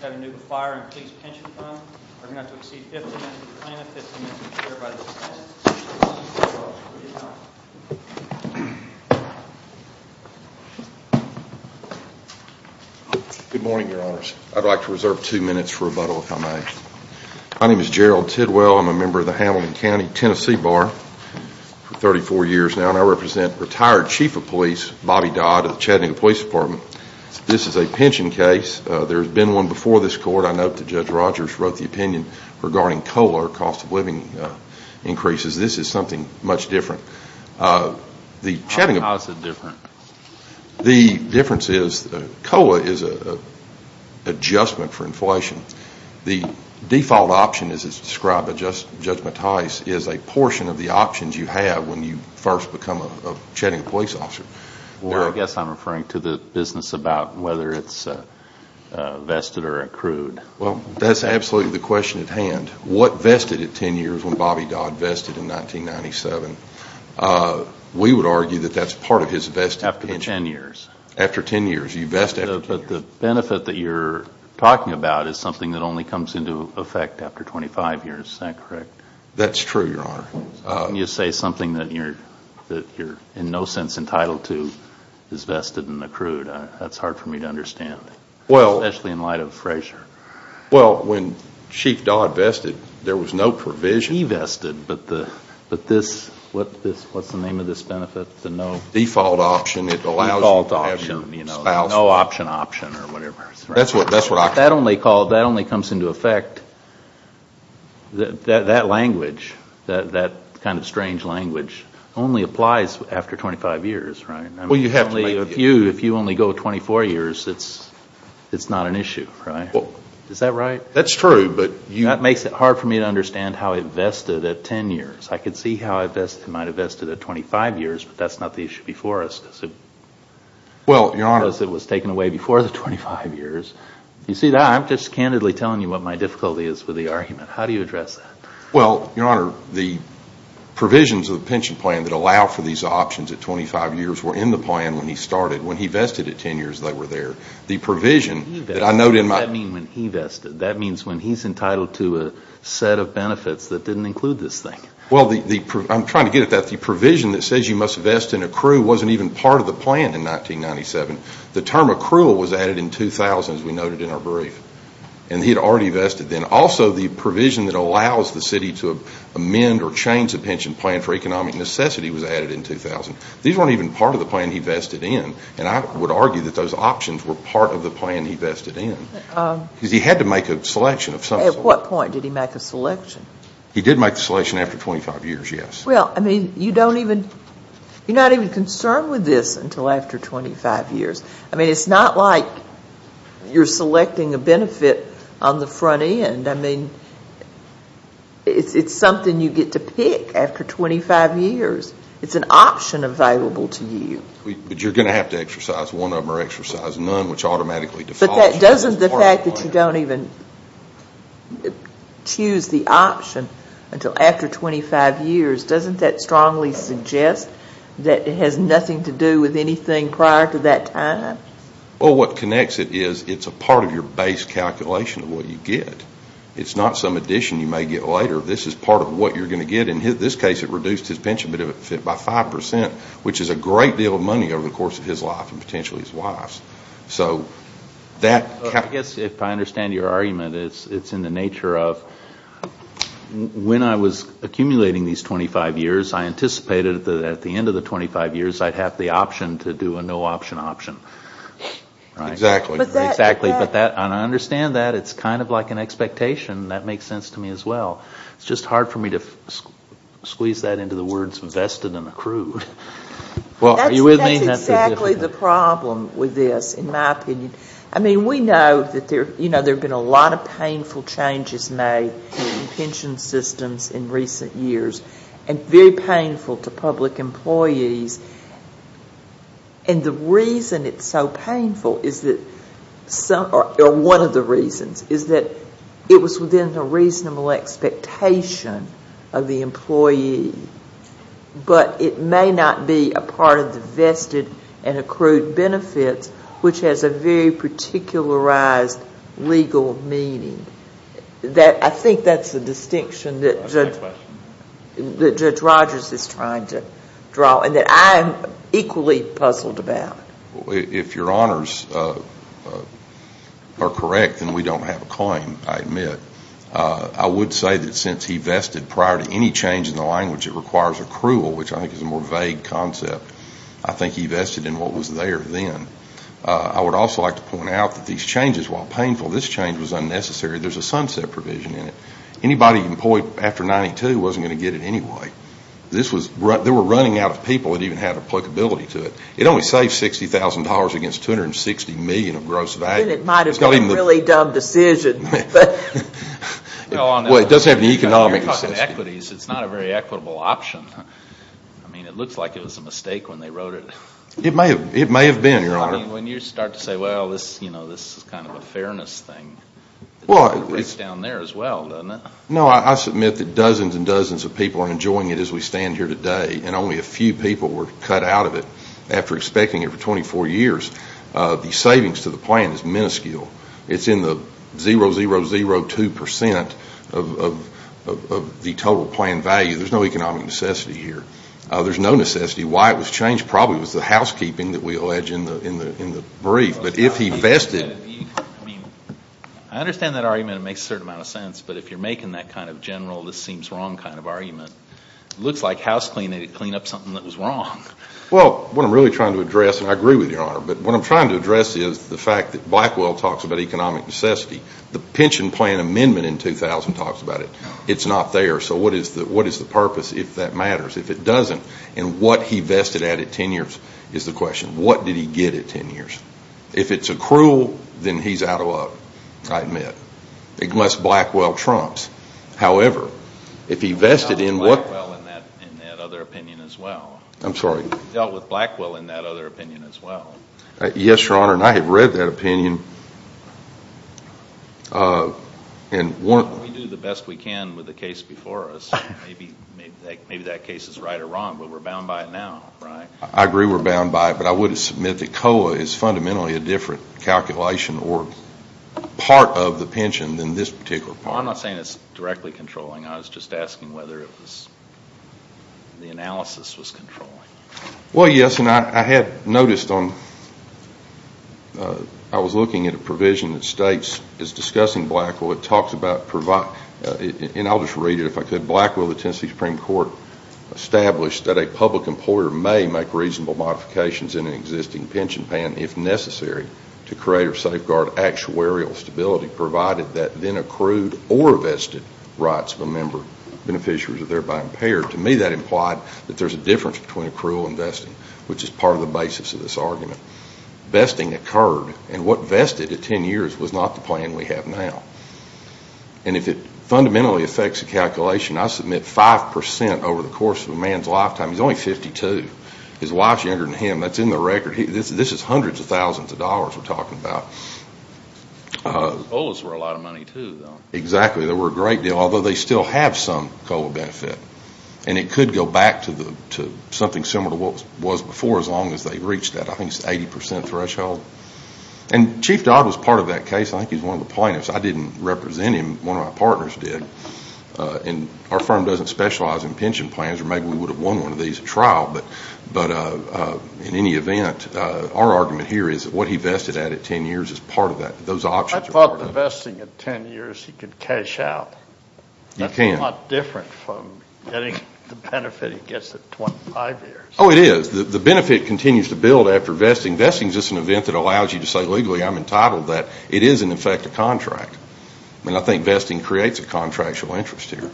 Chattanooga Fire and Police Pension Fund are going to have to exceed 50 minutes to plan a 15-minute repair by this evening. Good morning, your honors. I'd like to reserve two minutes for rebuttal, if I may. My name is Gerald Tidwell. I'm a member of the Hamilton County Tennessee Bar. For 34 years now and I represent retired Chief of Police Bobby Dodd of the Chattanooga Police Department. This is a pension case. There has been one before this court. I note that Judge Rogers wrote the opinion regarding COLA or cost of living increases. This is something much different. How is it different? The difference is COLA is an adjustment for inflation. The default option as it's described by Judge Mattis is a portion of the options you have when you first become a Chattanooga Police Officer. I guess I'm referring to the business about whether it's vested or accrued. That's absolutely the question at hand. What vested at 10 years when Bobby Dodd vested in 1997? We would argue that that's part of his vested pension. After 10 years? After 10 years. The benefit that you're talking about is something that only comes into effect after 25 years. Is that correct? That's true, Your Honor. When you say something that you're in no sense entitled to is vested and accrued, that's hard for me to understand. Especially in light of Frazier. Well, when Chief Dodd vested, there was no provision. He vested, but what's the name of this benefit? Default option. Default option. No option option or whatever. That's what I call it. That only comes into effect, that language, that kind of strange language, only applies after 25 years, right? Well, you have to make it. If you only go 24 years, it's not an issue, right? Is that right? That's true, but you That makes it hard for me to understand how it vested at 10 years. I can see how it might have vested at 25 years, but that's not the issue before us. Well, Your Honor I noticed it was taken away before the 25 years. You see, I'm just candidly telling you what my difficulty is with the argument. How do you address that? Well, Your Honor, the provisions of the pension plan that allow for these options at 25 years were in the plan when he started. When he vested at 10 years, they were there. The provision that I note in my What does that mean when he vested? That means when he's entitled to a set of benefits that didn't include this thing. Well, I'm trying to get at that. The provision that says you must vest and accrue wasn't even part of the plan in 1997. The term accrual was added in 2000, as we noted in our brief, and he had already vested then. Also, the provision that allows the city to amend or change the pension plan for economic necessity was added in 2000. These weren't even part of the plan he vested in, and I would argue that those options were part of the plan he vested in, because he had to make a selection of some sort. At what point did he make a selection? He did make the selection after 25 years, yes. Well, I mean, you don't even, you're not even concerned with this until after 25 years. I mean, it's not like you're selecting a benefit on the front end. I mean, it's something you get to pick after 25 years. It's an option available to you. But you're going to have to exercise one of them or exercise none, which automatically defaults to being part of the plan. But the fact that you don't even choose the option until after 25 years, doesn't that strongly suggest that it has nothing to do with anything prior to that time? Well, what connects it is it's a part of your base calculation of what you get. It's not some addition you may get later. This is part of what you're going to get. In this case, it reduced his pension benefit by 5%, which is a great deal of money over the course of his life and potentially his wife's. So that... I guess if I understand your argument, it's in the nature of when I was accumulating these 25 years, I anticipated that at the end of the 25 years, I'd have the option to do a no-option option. Exactly. Exactly. And I understand that. It's kind of like an expectation. That makes sense to me as well. It's just hard for me to squeeze that into the words vested and accrued. Well, are you with me? That's exactly the problem with this, in my opinion. I mean, we know that there have been a lot of painful changes made in pension systems in recent years and very painful to public employees. And the reason it's so painful is that some, or one of the reasons, is that it was within the reasonable expectation of the employee, but it may not be a part of the vested and accrued benefits, which has a very particularized legal meaning. I think that's the distinction that Judge Rogers is trying to draw and that I am equally puzzled about. If your honors are correct, then we don't have a claim, I admit. I would say that since he vested prior to any change in the language, it requires accrual, which I think is a more vague concept. I think he vested in what was there then. I would also like to point out that these changes, while painful, this change was unnecessary. There's a sunset provision in it. Anybody employed after 92 wasn't going to get it anyway. They were running out of people that even had applicability to it. It only saved $60,000 against $260 million of gross value. Then it might have been a really dumb decision. Well, it doesn't have any economic consistency. You're talking equities. It's not a very equitable option. I mean, it looks like it was a mistake when they wrote it. It may have been, your honor. I mean, when you start to say, well, this is kind of a fairness thing, it's down there as well, doesn't it? No, I submit that dozens and dozens of people are enjoying it as we stand here today. And only a few people were cut out of it after expecting it for 24 years. The savings to the plan is minuscule. It's in the 0, 0, 0, 2 percent of the total plan value. There's no economic necessity here. There's no necessity. Why it was changed probably was the housekeeping that we allege in the brief. I mean, I understand that argument. It makes a certain amount of sense. But if you're making that kind of general, this seems wrong kind of argument, it looks like housecleaning cleaned up something that was wrong. Well, what I'm really trying to address, and I agree with you, your honor, but what I'm trying to address is the fact that Blackwell talks about economic necessity. The pension plan amendment in 2000 talks about it. It's not there. So what is the purpose if that matters, if it doesn't? And what he vested at at 10 years is the question. What did he get at 10 years? If it's accrual, then he's out of luck, I admit. Unless Blackwell trumps. However, if he vested in what? He dealt with Blackwell in that other opinion as well. I'm sorry? He dealt with Blackwell in that other opinion as well. Yes, your honor, and I have read that opinion. We do the best we can with the case before us. Maybe that case is right or wrong, but we're bound by it now, right? I agree we're bound by it, but I would submit that COLA is fundamentally a different calculation or part of the pension than this particular part. I'm not saying it's directly controlling. I was just asking whether the analysis was controlling. Well, yes, and I had noticed on, I was looking at a provision that states it's discussing Blackwell. It talks about, and I'll just read it if I could, that Blackwell, the Tennessee Supreme Court, established that a public employer may make reasonable modifications in an existing pension plan if necessary to create or safeguard actuarial stability, provided that then accrued or vested rights of a member, beneficiaries are thereby impaired. To me, that implied that there's a difference between accrual and vesting, which is part of the basis of this argument. Vesting occurred, and what vested at 10 years was not the plan we have now. And if it fundamentally affects the calculation, I submit 5% over the course of a man's lifetime. He's only 52. His wife's younger than him. That's in the record. This is hundreds of thousands of dollars we're talking about. COLAs were a lot of money, too, though. Exactly. They were a great deal, although they still have some COLA benefit, and it could go back to something similar to what was before as long as they reached that, I think, 80% threshold. And Chief Dodd was part of that case. I think he's one of the plaintiffs. I didn't represent him. One of my partners did. And our firm doesn't specialize in pension plans, or maybe we would have won one of these at trial. But in any event, our argument here is that what he vested at at 10 years is part of that. Those options are part of that. I thought the vesting at 10 years he could cash out. You can. That's a lot different from getting the benefit he gets at 25 years. Oh, it is. The benefit continues to build after vesting. Vesting is just an event that allows you to say legally I'm entitled to that. It is, in effect, a contract. And I think vesting creates a contractual interest here,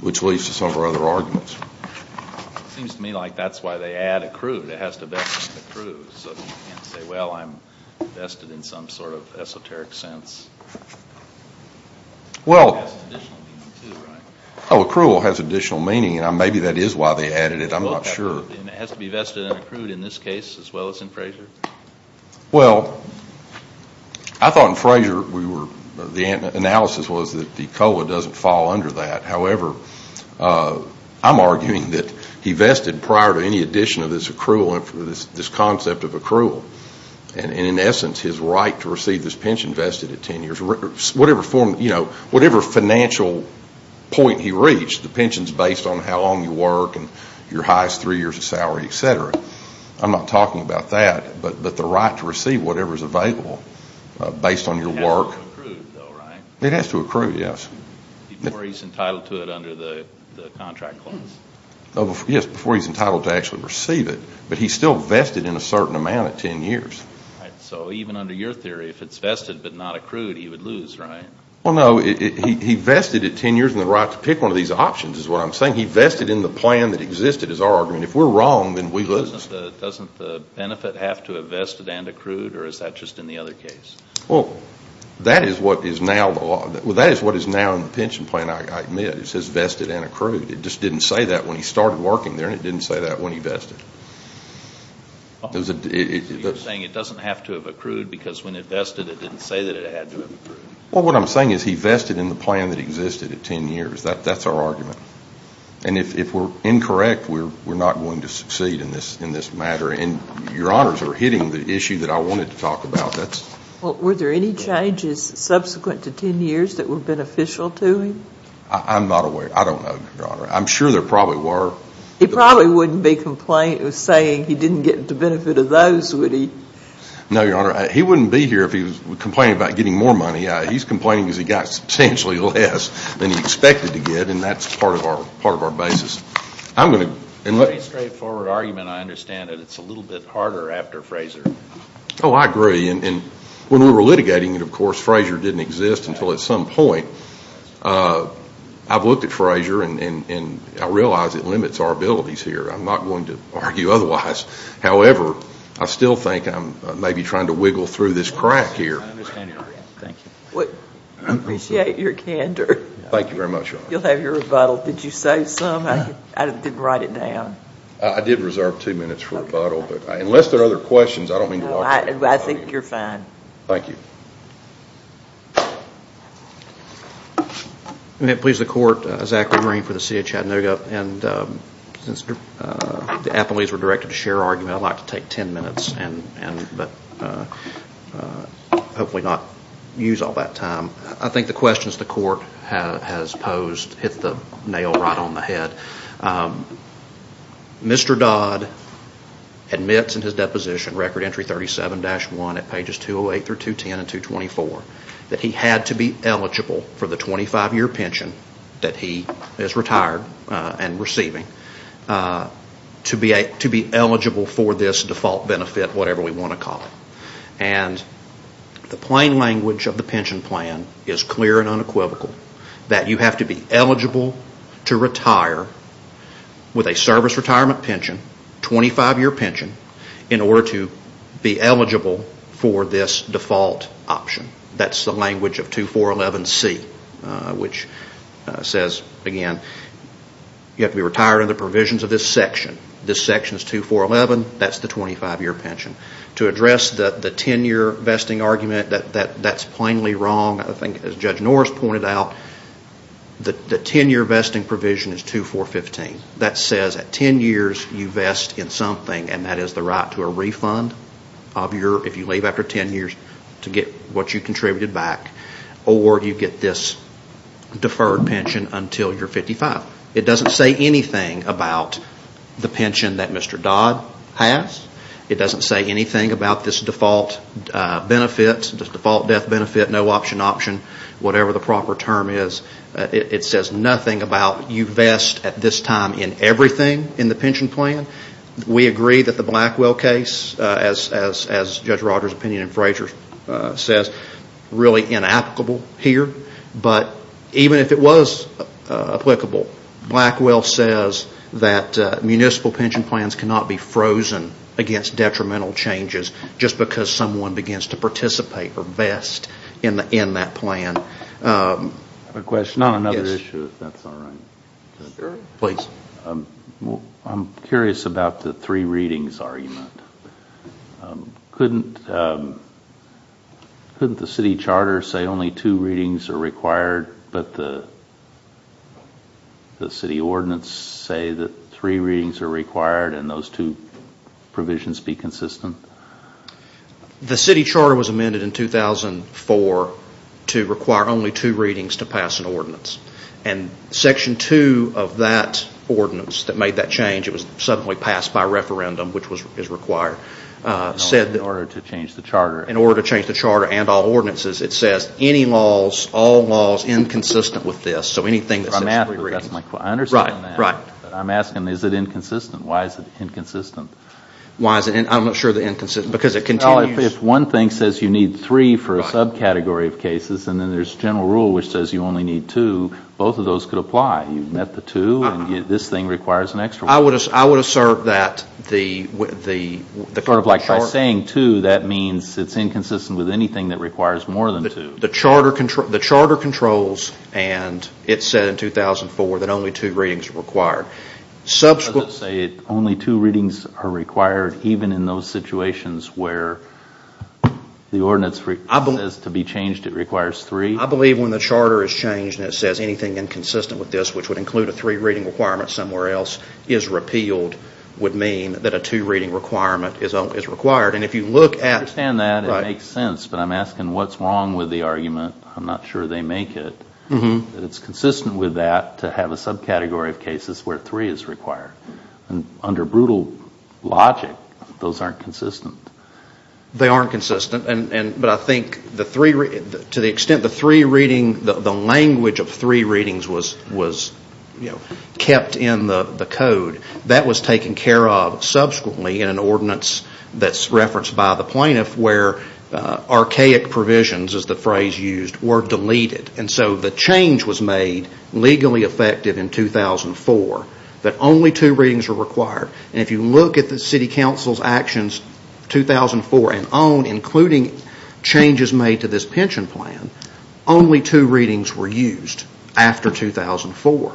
which leads to some of our other arguments. It seems to me like that's why they add accrued. It has to vest accrued so that you can't say, well, I'm vested in some sort of esoteric sense. Well, accrual has additional meaning, and maybe that is why they added it. I'm not sure. And it has to be vested and accrued in this case as well as in Frazier? Well, I thought in Frazier the analysis was that the COLA doesn't fall under that. However, I'm arguing that he vested prior to any addition of this concept of accrual. And in essence, his right to receive this pension vested at 10 years, whatever financial point he reached, the pension is based on how long you work and your highest three years of salary, et cetera. I'm not talking about that, but the right to receive whatever is available based on your work. It has to accrue, though, right? It has to accrue, yes. Before he's entitled to it under the contract clause? Yes, before he's entitled to actually receive it. But he's still vested in a certain amount at 10 years. So even under your theory, if it's vested but not accrued, he would lose, right? Well, no. He vested at 10 years and the right to pick one of these options is what I'm saying. He vested in the plan that existed is our argument. If we're wrong, then we lose. Doesn't the benefit have to have vested and accrued, or is that just in the other case? Well, that is what is now in the pension plan, I admit. It says vested and accrued. It just didn't say that when he started working there, and it didn't say that when he vested. You're saying it doesn't have to have accrued because when it vested, it didn't say that it had to have accrued. Well, what I'm saying is he vested in the plan that existed at 10 years. That's our argument. And if we're incorrect, we're not going to succeed in this matter. And your honors are hitting the issue that I wanted to talk about. Were there any changes subsequent to 10 years that were beneficial to him? I'm not aware. I don't know, Your Honor. I'm sure there probably were. He probably wouldn't be complaining, saying he didn't get the benefit of those, would he? No, Your Honor. He wouldn't be here if he was complaining about getting more money. He's complaining because he got substantially less than he expected to get, and that's part of our basis. It's a pretty straightforward argument. I understand that it's a little bit harder after Frazier. Oh, I agree. And when we were litigating it, of course, Frazier didn't exist until at some point. I've looked at Frazier, and I realize it limits our abilities here. I'm not going to argue otherwise. However, I still think I'm maybe trying to wiggle through this crack here. I understand your argument. Thank you. I appreciate your candor. Thank you very much, Your Honor. You'll have your rebuttal. Did you save some? I didn't write it down. I did reserve two minutes for rebuttal. Unless there are other questions, I don't mean to walk you through it. I think you're fine. Thank you. May it please the Court, Zachary Green for the City of Chattanooga. Since the appellees were directed to share argument, I'd like to take ten minutes, but hopefully not use all that time. I think the questions the Court has posed hit the nail right on the head. Mr. Dodd admits in his deposition, Record Entry 37-1 at pages 208 through 210 and 224, that he had to be eligible for the 25-year pension that he is retired and receiving to be eligible for this default benefit, whatever we want to call it. The plain language of the pension plan is clear and unequivocal that you have to be eligible to retire with a service retirement pension, 25-year pension, in order to be eligible for this default option. That's the language of 2411C, which says, again, you have to be retired under the provisions of this section. This section is 2411, that's the 25-year pension. To address the 10-year vesting argument, that's plainly wrong. I think, as Judge Norris pointed out, the 10-year vesting provision is 2415. That says at 10 years, you vest in something, and that is the right to a refund if you leave after 10 years to get what you contributed back, or you get this deferred pension until you're 55. It doesn't say anything about the pension that Mr. Dodd has. It doesn't say anything about this default death benefit, no option option, whatever the proper term is. It says nothing about you vest at this time in everything in the pension plan. We agree that the Blackwell case, as Judge Rogers' opinion and Frazier's says, really inapplicable here, but even if it was applicable, Blackwell says that municipal pension plans cannot be frozen against detrimental changes just because someone begins to participate or vest in that plan. I have a question on another issue, if that's all right. Sure, please. I'm curious about the three readings argument. Couldn't the city charter say only two readings are required, but the city ordinance say that three readings are required and those two provisions be consistent? The city charter was amended in 2004 to require only two readings to pass an ordinance, and section two of that ordinance that made that change, it was suddenly passed by referendum, which is required, said that in order to change the charter and all ordinances, it says any laws, all laws inconsistent with this, so anything that says three readings. I understand that, but I'm asking is it inconsistent? Why is it inconsistent? I'm not sure the inconsistency, because it continues. If one thing says you need three for a subcategory of cases, and then there's general rule which says you only need two, both of those could apply. You've met the two, and this thing requires an extra one. I would assert that the charter... Like by saying two, that means it's inconsistent with anything that requires more than two. The charter controls, and it said in 2004 that only two readings are required. Does it say only two readings are required even in those situations where the ordinance says to be changed it requires three? I believe when the charter is changed and it says anything inconsistent with this, which would include a three-reading requirement somewhere else, is repealed, would mean that a two-reading requirement is required. I understand that, it makes sense, but I'm asking what's wrong with the argument, I'm not sure they make it, that it's consistent with that to have a subcategory of cases where three is required. Under brutal logic, those aren't consistent. They aren't consistent, but I think to the extent the language of three readings was kept in the code, that was taken care of subsequently in an ordinance that's referenced by the plaintiff where archaic provisions, as the phrase used, were deleted. The change was made legally effective in 2004 that only two readings were required. If you look at the city council's actions in 2004 and on, including changes made to this pension plan, only two readings were used after 2004.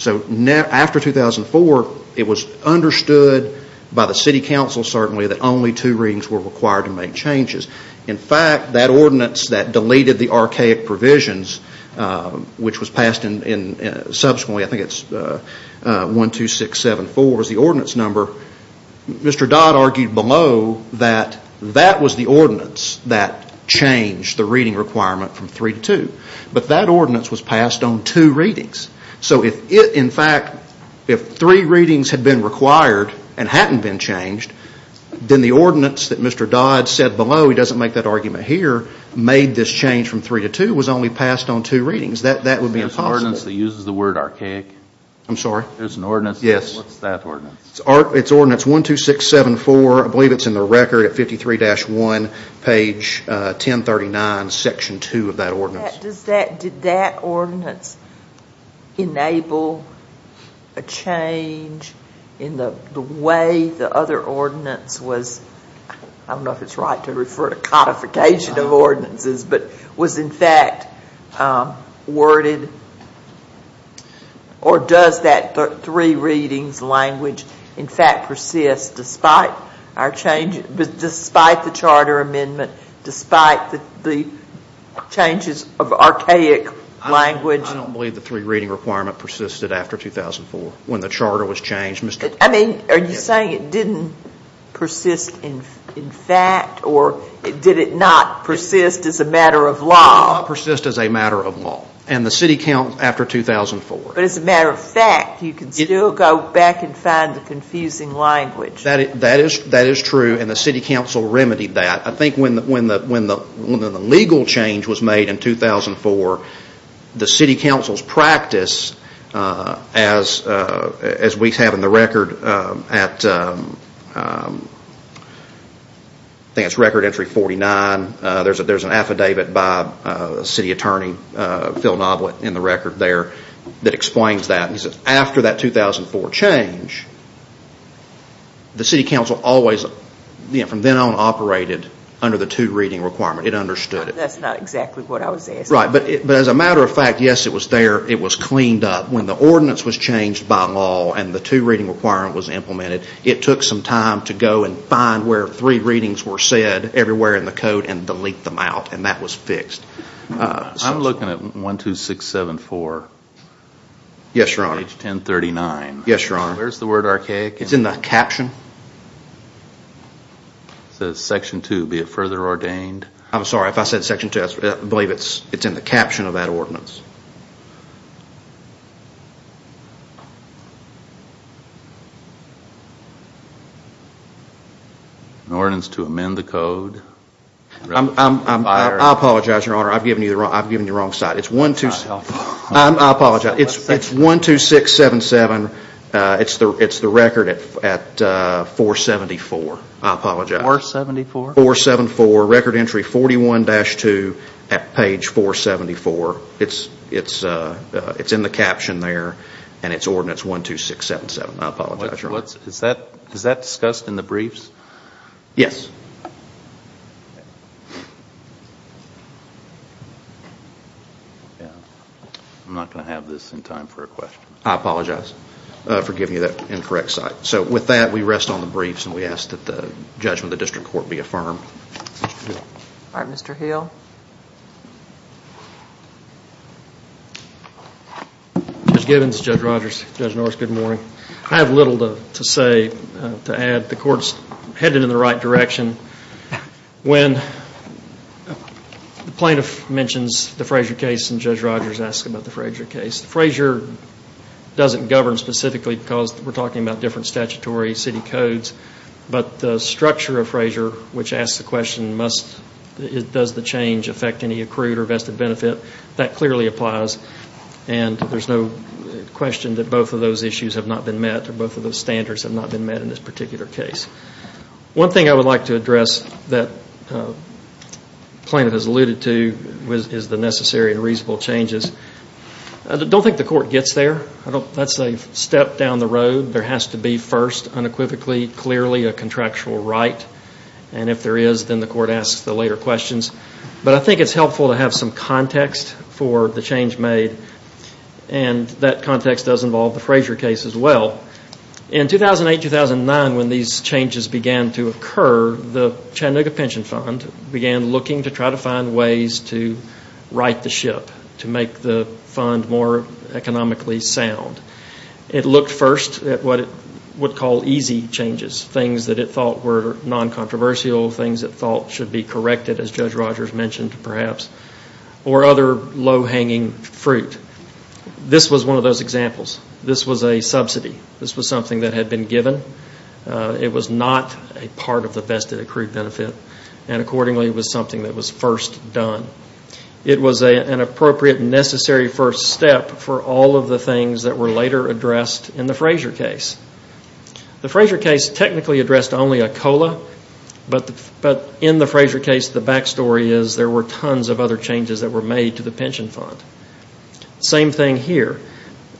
After 2004, it was understood by the city council certainly that only two readings were required to make changes. In fact, that ordinance that deleted the archaic provisions, which was passed subsequently, I think it's 12674 was the ordinance number, Mr. Dodd argued below that that was the ordinance that changed the reading requirement from three to two. But that ordinance was passed on two readings. In fact, if three readings had been required and hadn't been changed, then the ordinance that Mr. Dodd said below, he doesn't make that argument here, made this change from three to two was only passed on two readings. That would be impossible. There's an ordinance that uses the word archaic. I'm sorry? There's an ordinance. Yes. What's that ordinance? It's ordinance 12674. I believe it's in the record at 53-1, page 1039, section 2 of that ordinance. Did that ordinance enable a change in the way the other ordinance was, I don't know if it's right to refer to codification of ordinances, but was in fact worded or does that three readings language in fact persist despite the charter amendment, despite the changes of archaic language? I don't believe the three reading requirement persisted after 2004 when the charter was changed. I mean, are you saying it didn't persist in fact or did it not persist as a matter of law? It did not persist as a matter of law. And the city counts after 2004. But as a matter of fact, you can still go back and find the confusing language. That is true and the city council remedied that. I think when the legal change was made in 2004, the city council's practice, as we have in the record, I think it's record entry 49, there's an affidavit by city attorney Phil Knoblet in the record there that explains that. He says after that 2004 change, the city council always, from then on, operated under the two reading requirement. It understood it. That's not exactly what I was asking. Right, but as a matter of fact, yes, it was there. It was cleaned up. When the ordinance was changed by law and the two reading requirement was implemented, it took some time to go and find where three readings were said everywhere in the code and delete them out and that was fixed. I'm looking at 12674. Yes, Your Honor. Page 1039. Yes, Your Honor. Where's the word archaic? It's in the caption. It says section 2, be it further ordained. I'm sorry, if I said section 2, I believe it's in the caption of that ordinance. An ordinance to amend the code. I apologize, Your Honor, I've given you the wrong side. I apologize. It's 12677. It's the record at 474. I apologize. 474? 474, record entry 41-2 at page 474. It's in the caption there and it's ordinance 12677. I apologize, Your Honor. Is that discussed in the briefs? Yes. I'm not going to have this in time for a question. I apologize for giving you that incorrect side. So with that, we rest on the briefs and we ask that the judgment of the district court be affirmed. All right, Mr. Hill. Judge Gibbons, Judge Rogers, Judge Norris, good morning. I have little to say to add. The court's headed in the right direction. When the plaintiff mentions the Frazier case and Judge Rogers asks about the Frazier case, Frazier doesn't govern specifically because we're talking about different statutory city codes, but the structure of Frazier, which asks the question, does the change affect any accrued or vested benefit, that clearly applies and there's no question that both of those issues have not been met or both of those standards have not been met in this particular case. One thing I would like to address that the plaintiff has alluded to is the necessary and reasonable changes. I don't think the court gets there. That's a step down the road. There has to be first, unequivocally, clearly a contractual right, and if there is, then the court asks the later questions. But I think it's helpful to have some context for the change made, and that context does involve the Frazier case as well. In 2008-2009, when these changes began to occur, the Chattanooga Pension Fund began looking to try to find ways to right the ship, to make the fund more economically sound. It looked first at what it would call easy changes, things that it thought were non-controversial, things it thought should be corrected, as Judge Rogers mentioned, perhaps, or other low-hanging fruit. This was one of those examples. This was a subsidy. This was something that had been given. It was not a part of the vested accrued benefit, and accordingly, it was something that was first done. It was an appropriate, necessary first step for all of the things that were later addressed in the Frazier case. The Frazier case technically addressed only a COLA, but in the Frazier case, the back story is there were tons of other changes that were made to the pension fund. Same thing here.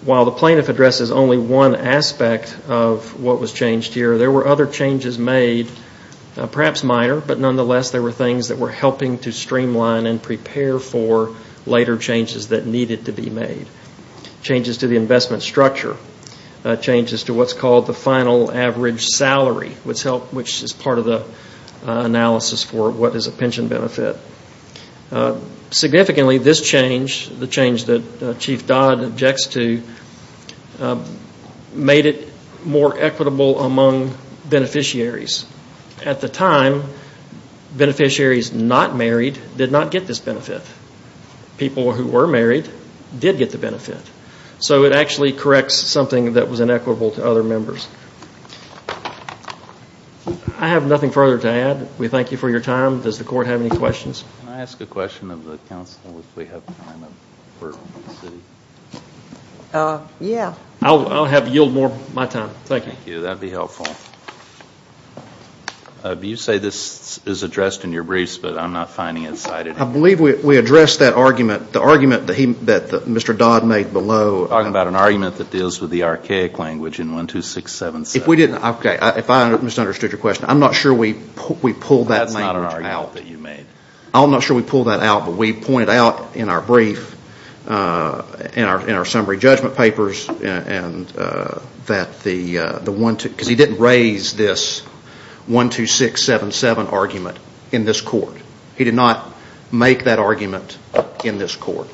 While the plaintiff addresses only one aspect of what was changed here, there were other changes made, perhaps minor, but nonetheless, there were things that were helping to streamline and prepare for later changes that needed to be made. Changes to the investment structure. Changes to what's called the final average salary, which is part of the analysis for what is a pension benefit. Significantly, this change, the change that Chief Dodd objects to, made it more equitable among beneficiaries. At the time, beneficiaries not married did not get this benefit. People who were married did get the benefit. So it actually corrects something that was inequitable to other members. I have nothing further to add. We thank you for your time. Does the court have any questions? Can I ask a question of the counsel if we have time? Yeah. I'll yield more of my time. Thank you. Thank you. That would be helpful. You say this is addressed in your briefs, but I'm not finding it cited. I believe we addressed that argument, the argument that Mr. Dodd made below, talking about an argument that deals with the archaic language in 12677. If I misunderstood your question, I'm not sure we pulled that language out. I'm not sure we pulled that out, but we pointed out in our brief, in our summary judgment papers, because he didn't raise this 12677 argument in this court. He did not make that argument in this court.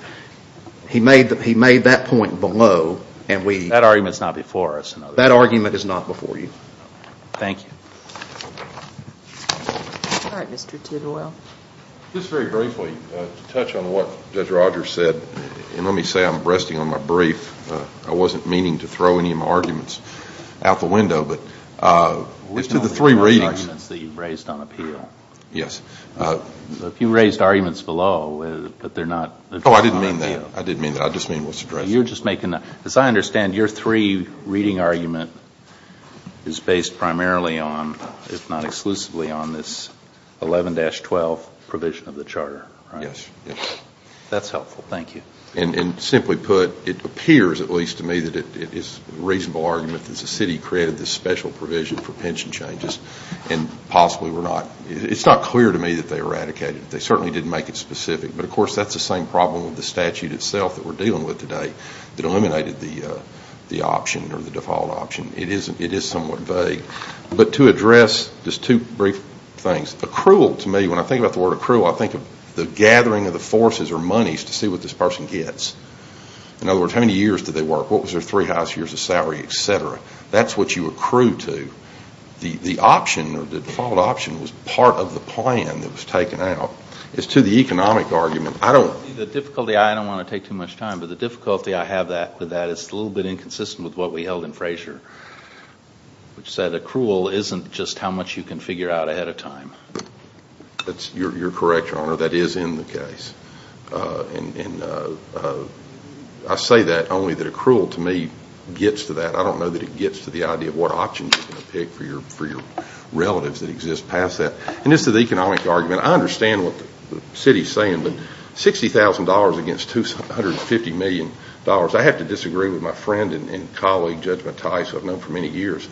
He made that point below. That argument is not before us. That argument is not before you. Thank you. All right, Mr. Tidwell. Just very briefly, to touch on what Judge Rogers said, and let me say I'm resting on my brief. I wasn't meaning to throw any of my arguments out the window, but as to the three readings. We're talking about the arguments that you raised on appeal. Yes. You raised arguments below, but they're not addressed on appeal. Oh, I didn't mean that. I didn't mean that. I just mean what's addressed. As I understand, your three-reading argument is based primarily on, if not exclusively on, this 11-12 provision of the charter, right? Yes. That's helpful. Thank you. And simply put, it appears at least to me that it is a reasonable argument that the city created this special provision for pension changes, and possibly were not. It's not clear to me that they eradicated it. They certainly didn't make it specific. But, of course, that's the same problem with the statute itself that we're dealing with today that eliminated the option or the default option. It is somewhat vague. But to address just two brief things. Accrual to me, when I think about the word accrual, I think of the gathering of the forces or monies to see what this person gets. In other words, how many years did they work? What was their three highest years of salary, et cetera? That's what you accrue to. The option or the default option was part of the plan that was taken out. As to the economic argument, I don't want to take too much time. But the difficulty I have with that is a little bit inconsistent with what we held in Frazier, which said accrual isn't just how much you can figure out ahead of time. You're correct, Your Honor. That is in the case. And I say that only that accrual to me gets to that. I don't know that it gets to the idea of what option you're going to pick for your relatives that exist past that. And as to the economic argument, I understand what the city is saying. But $60,000 against $250 million, I have to disagree with my friend and colleague, Judge Mattias, who I've known for many years.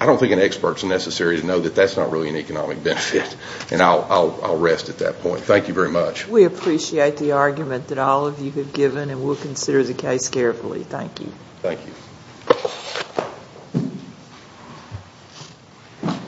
I don't think an expert is necessary to know that that's not really an economic benefit. And I'll rest at that point. Thank you very much. We appreciate the argument that all of you have given, and we'll consider the case carefully. Thank you. Thank you.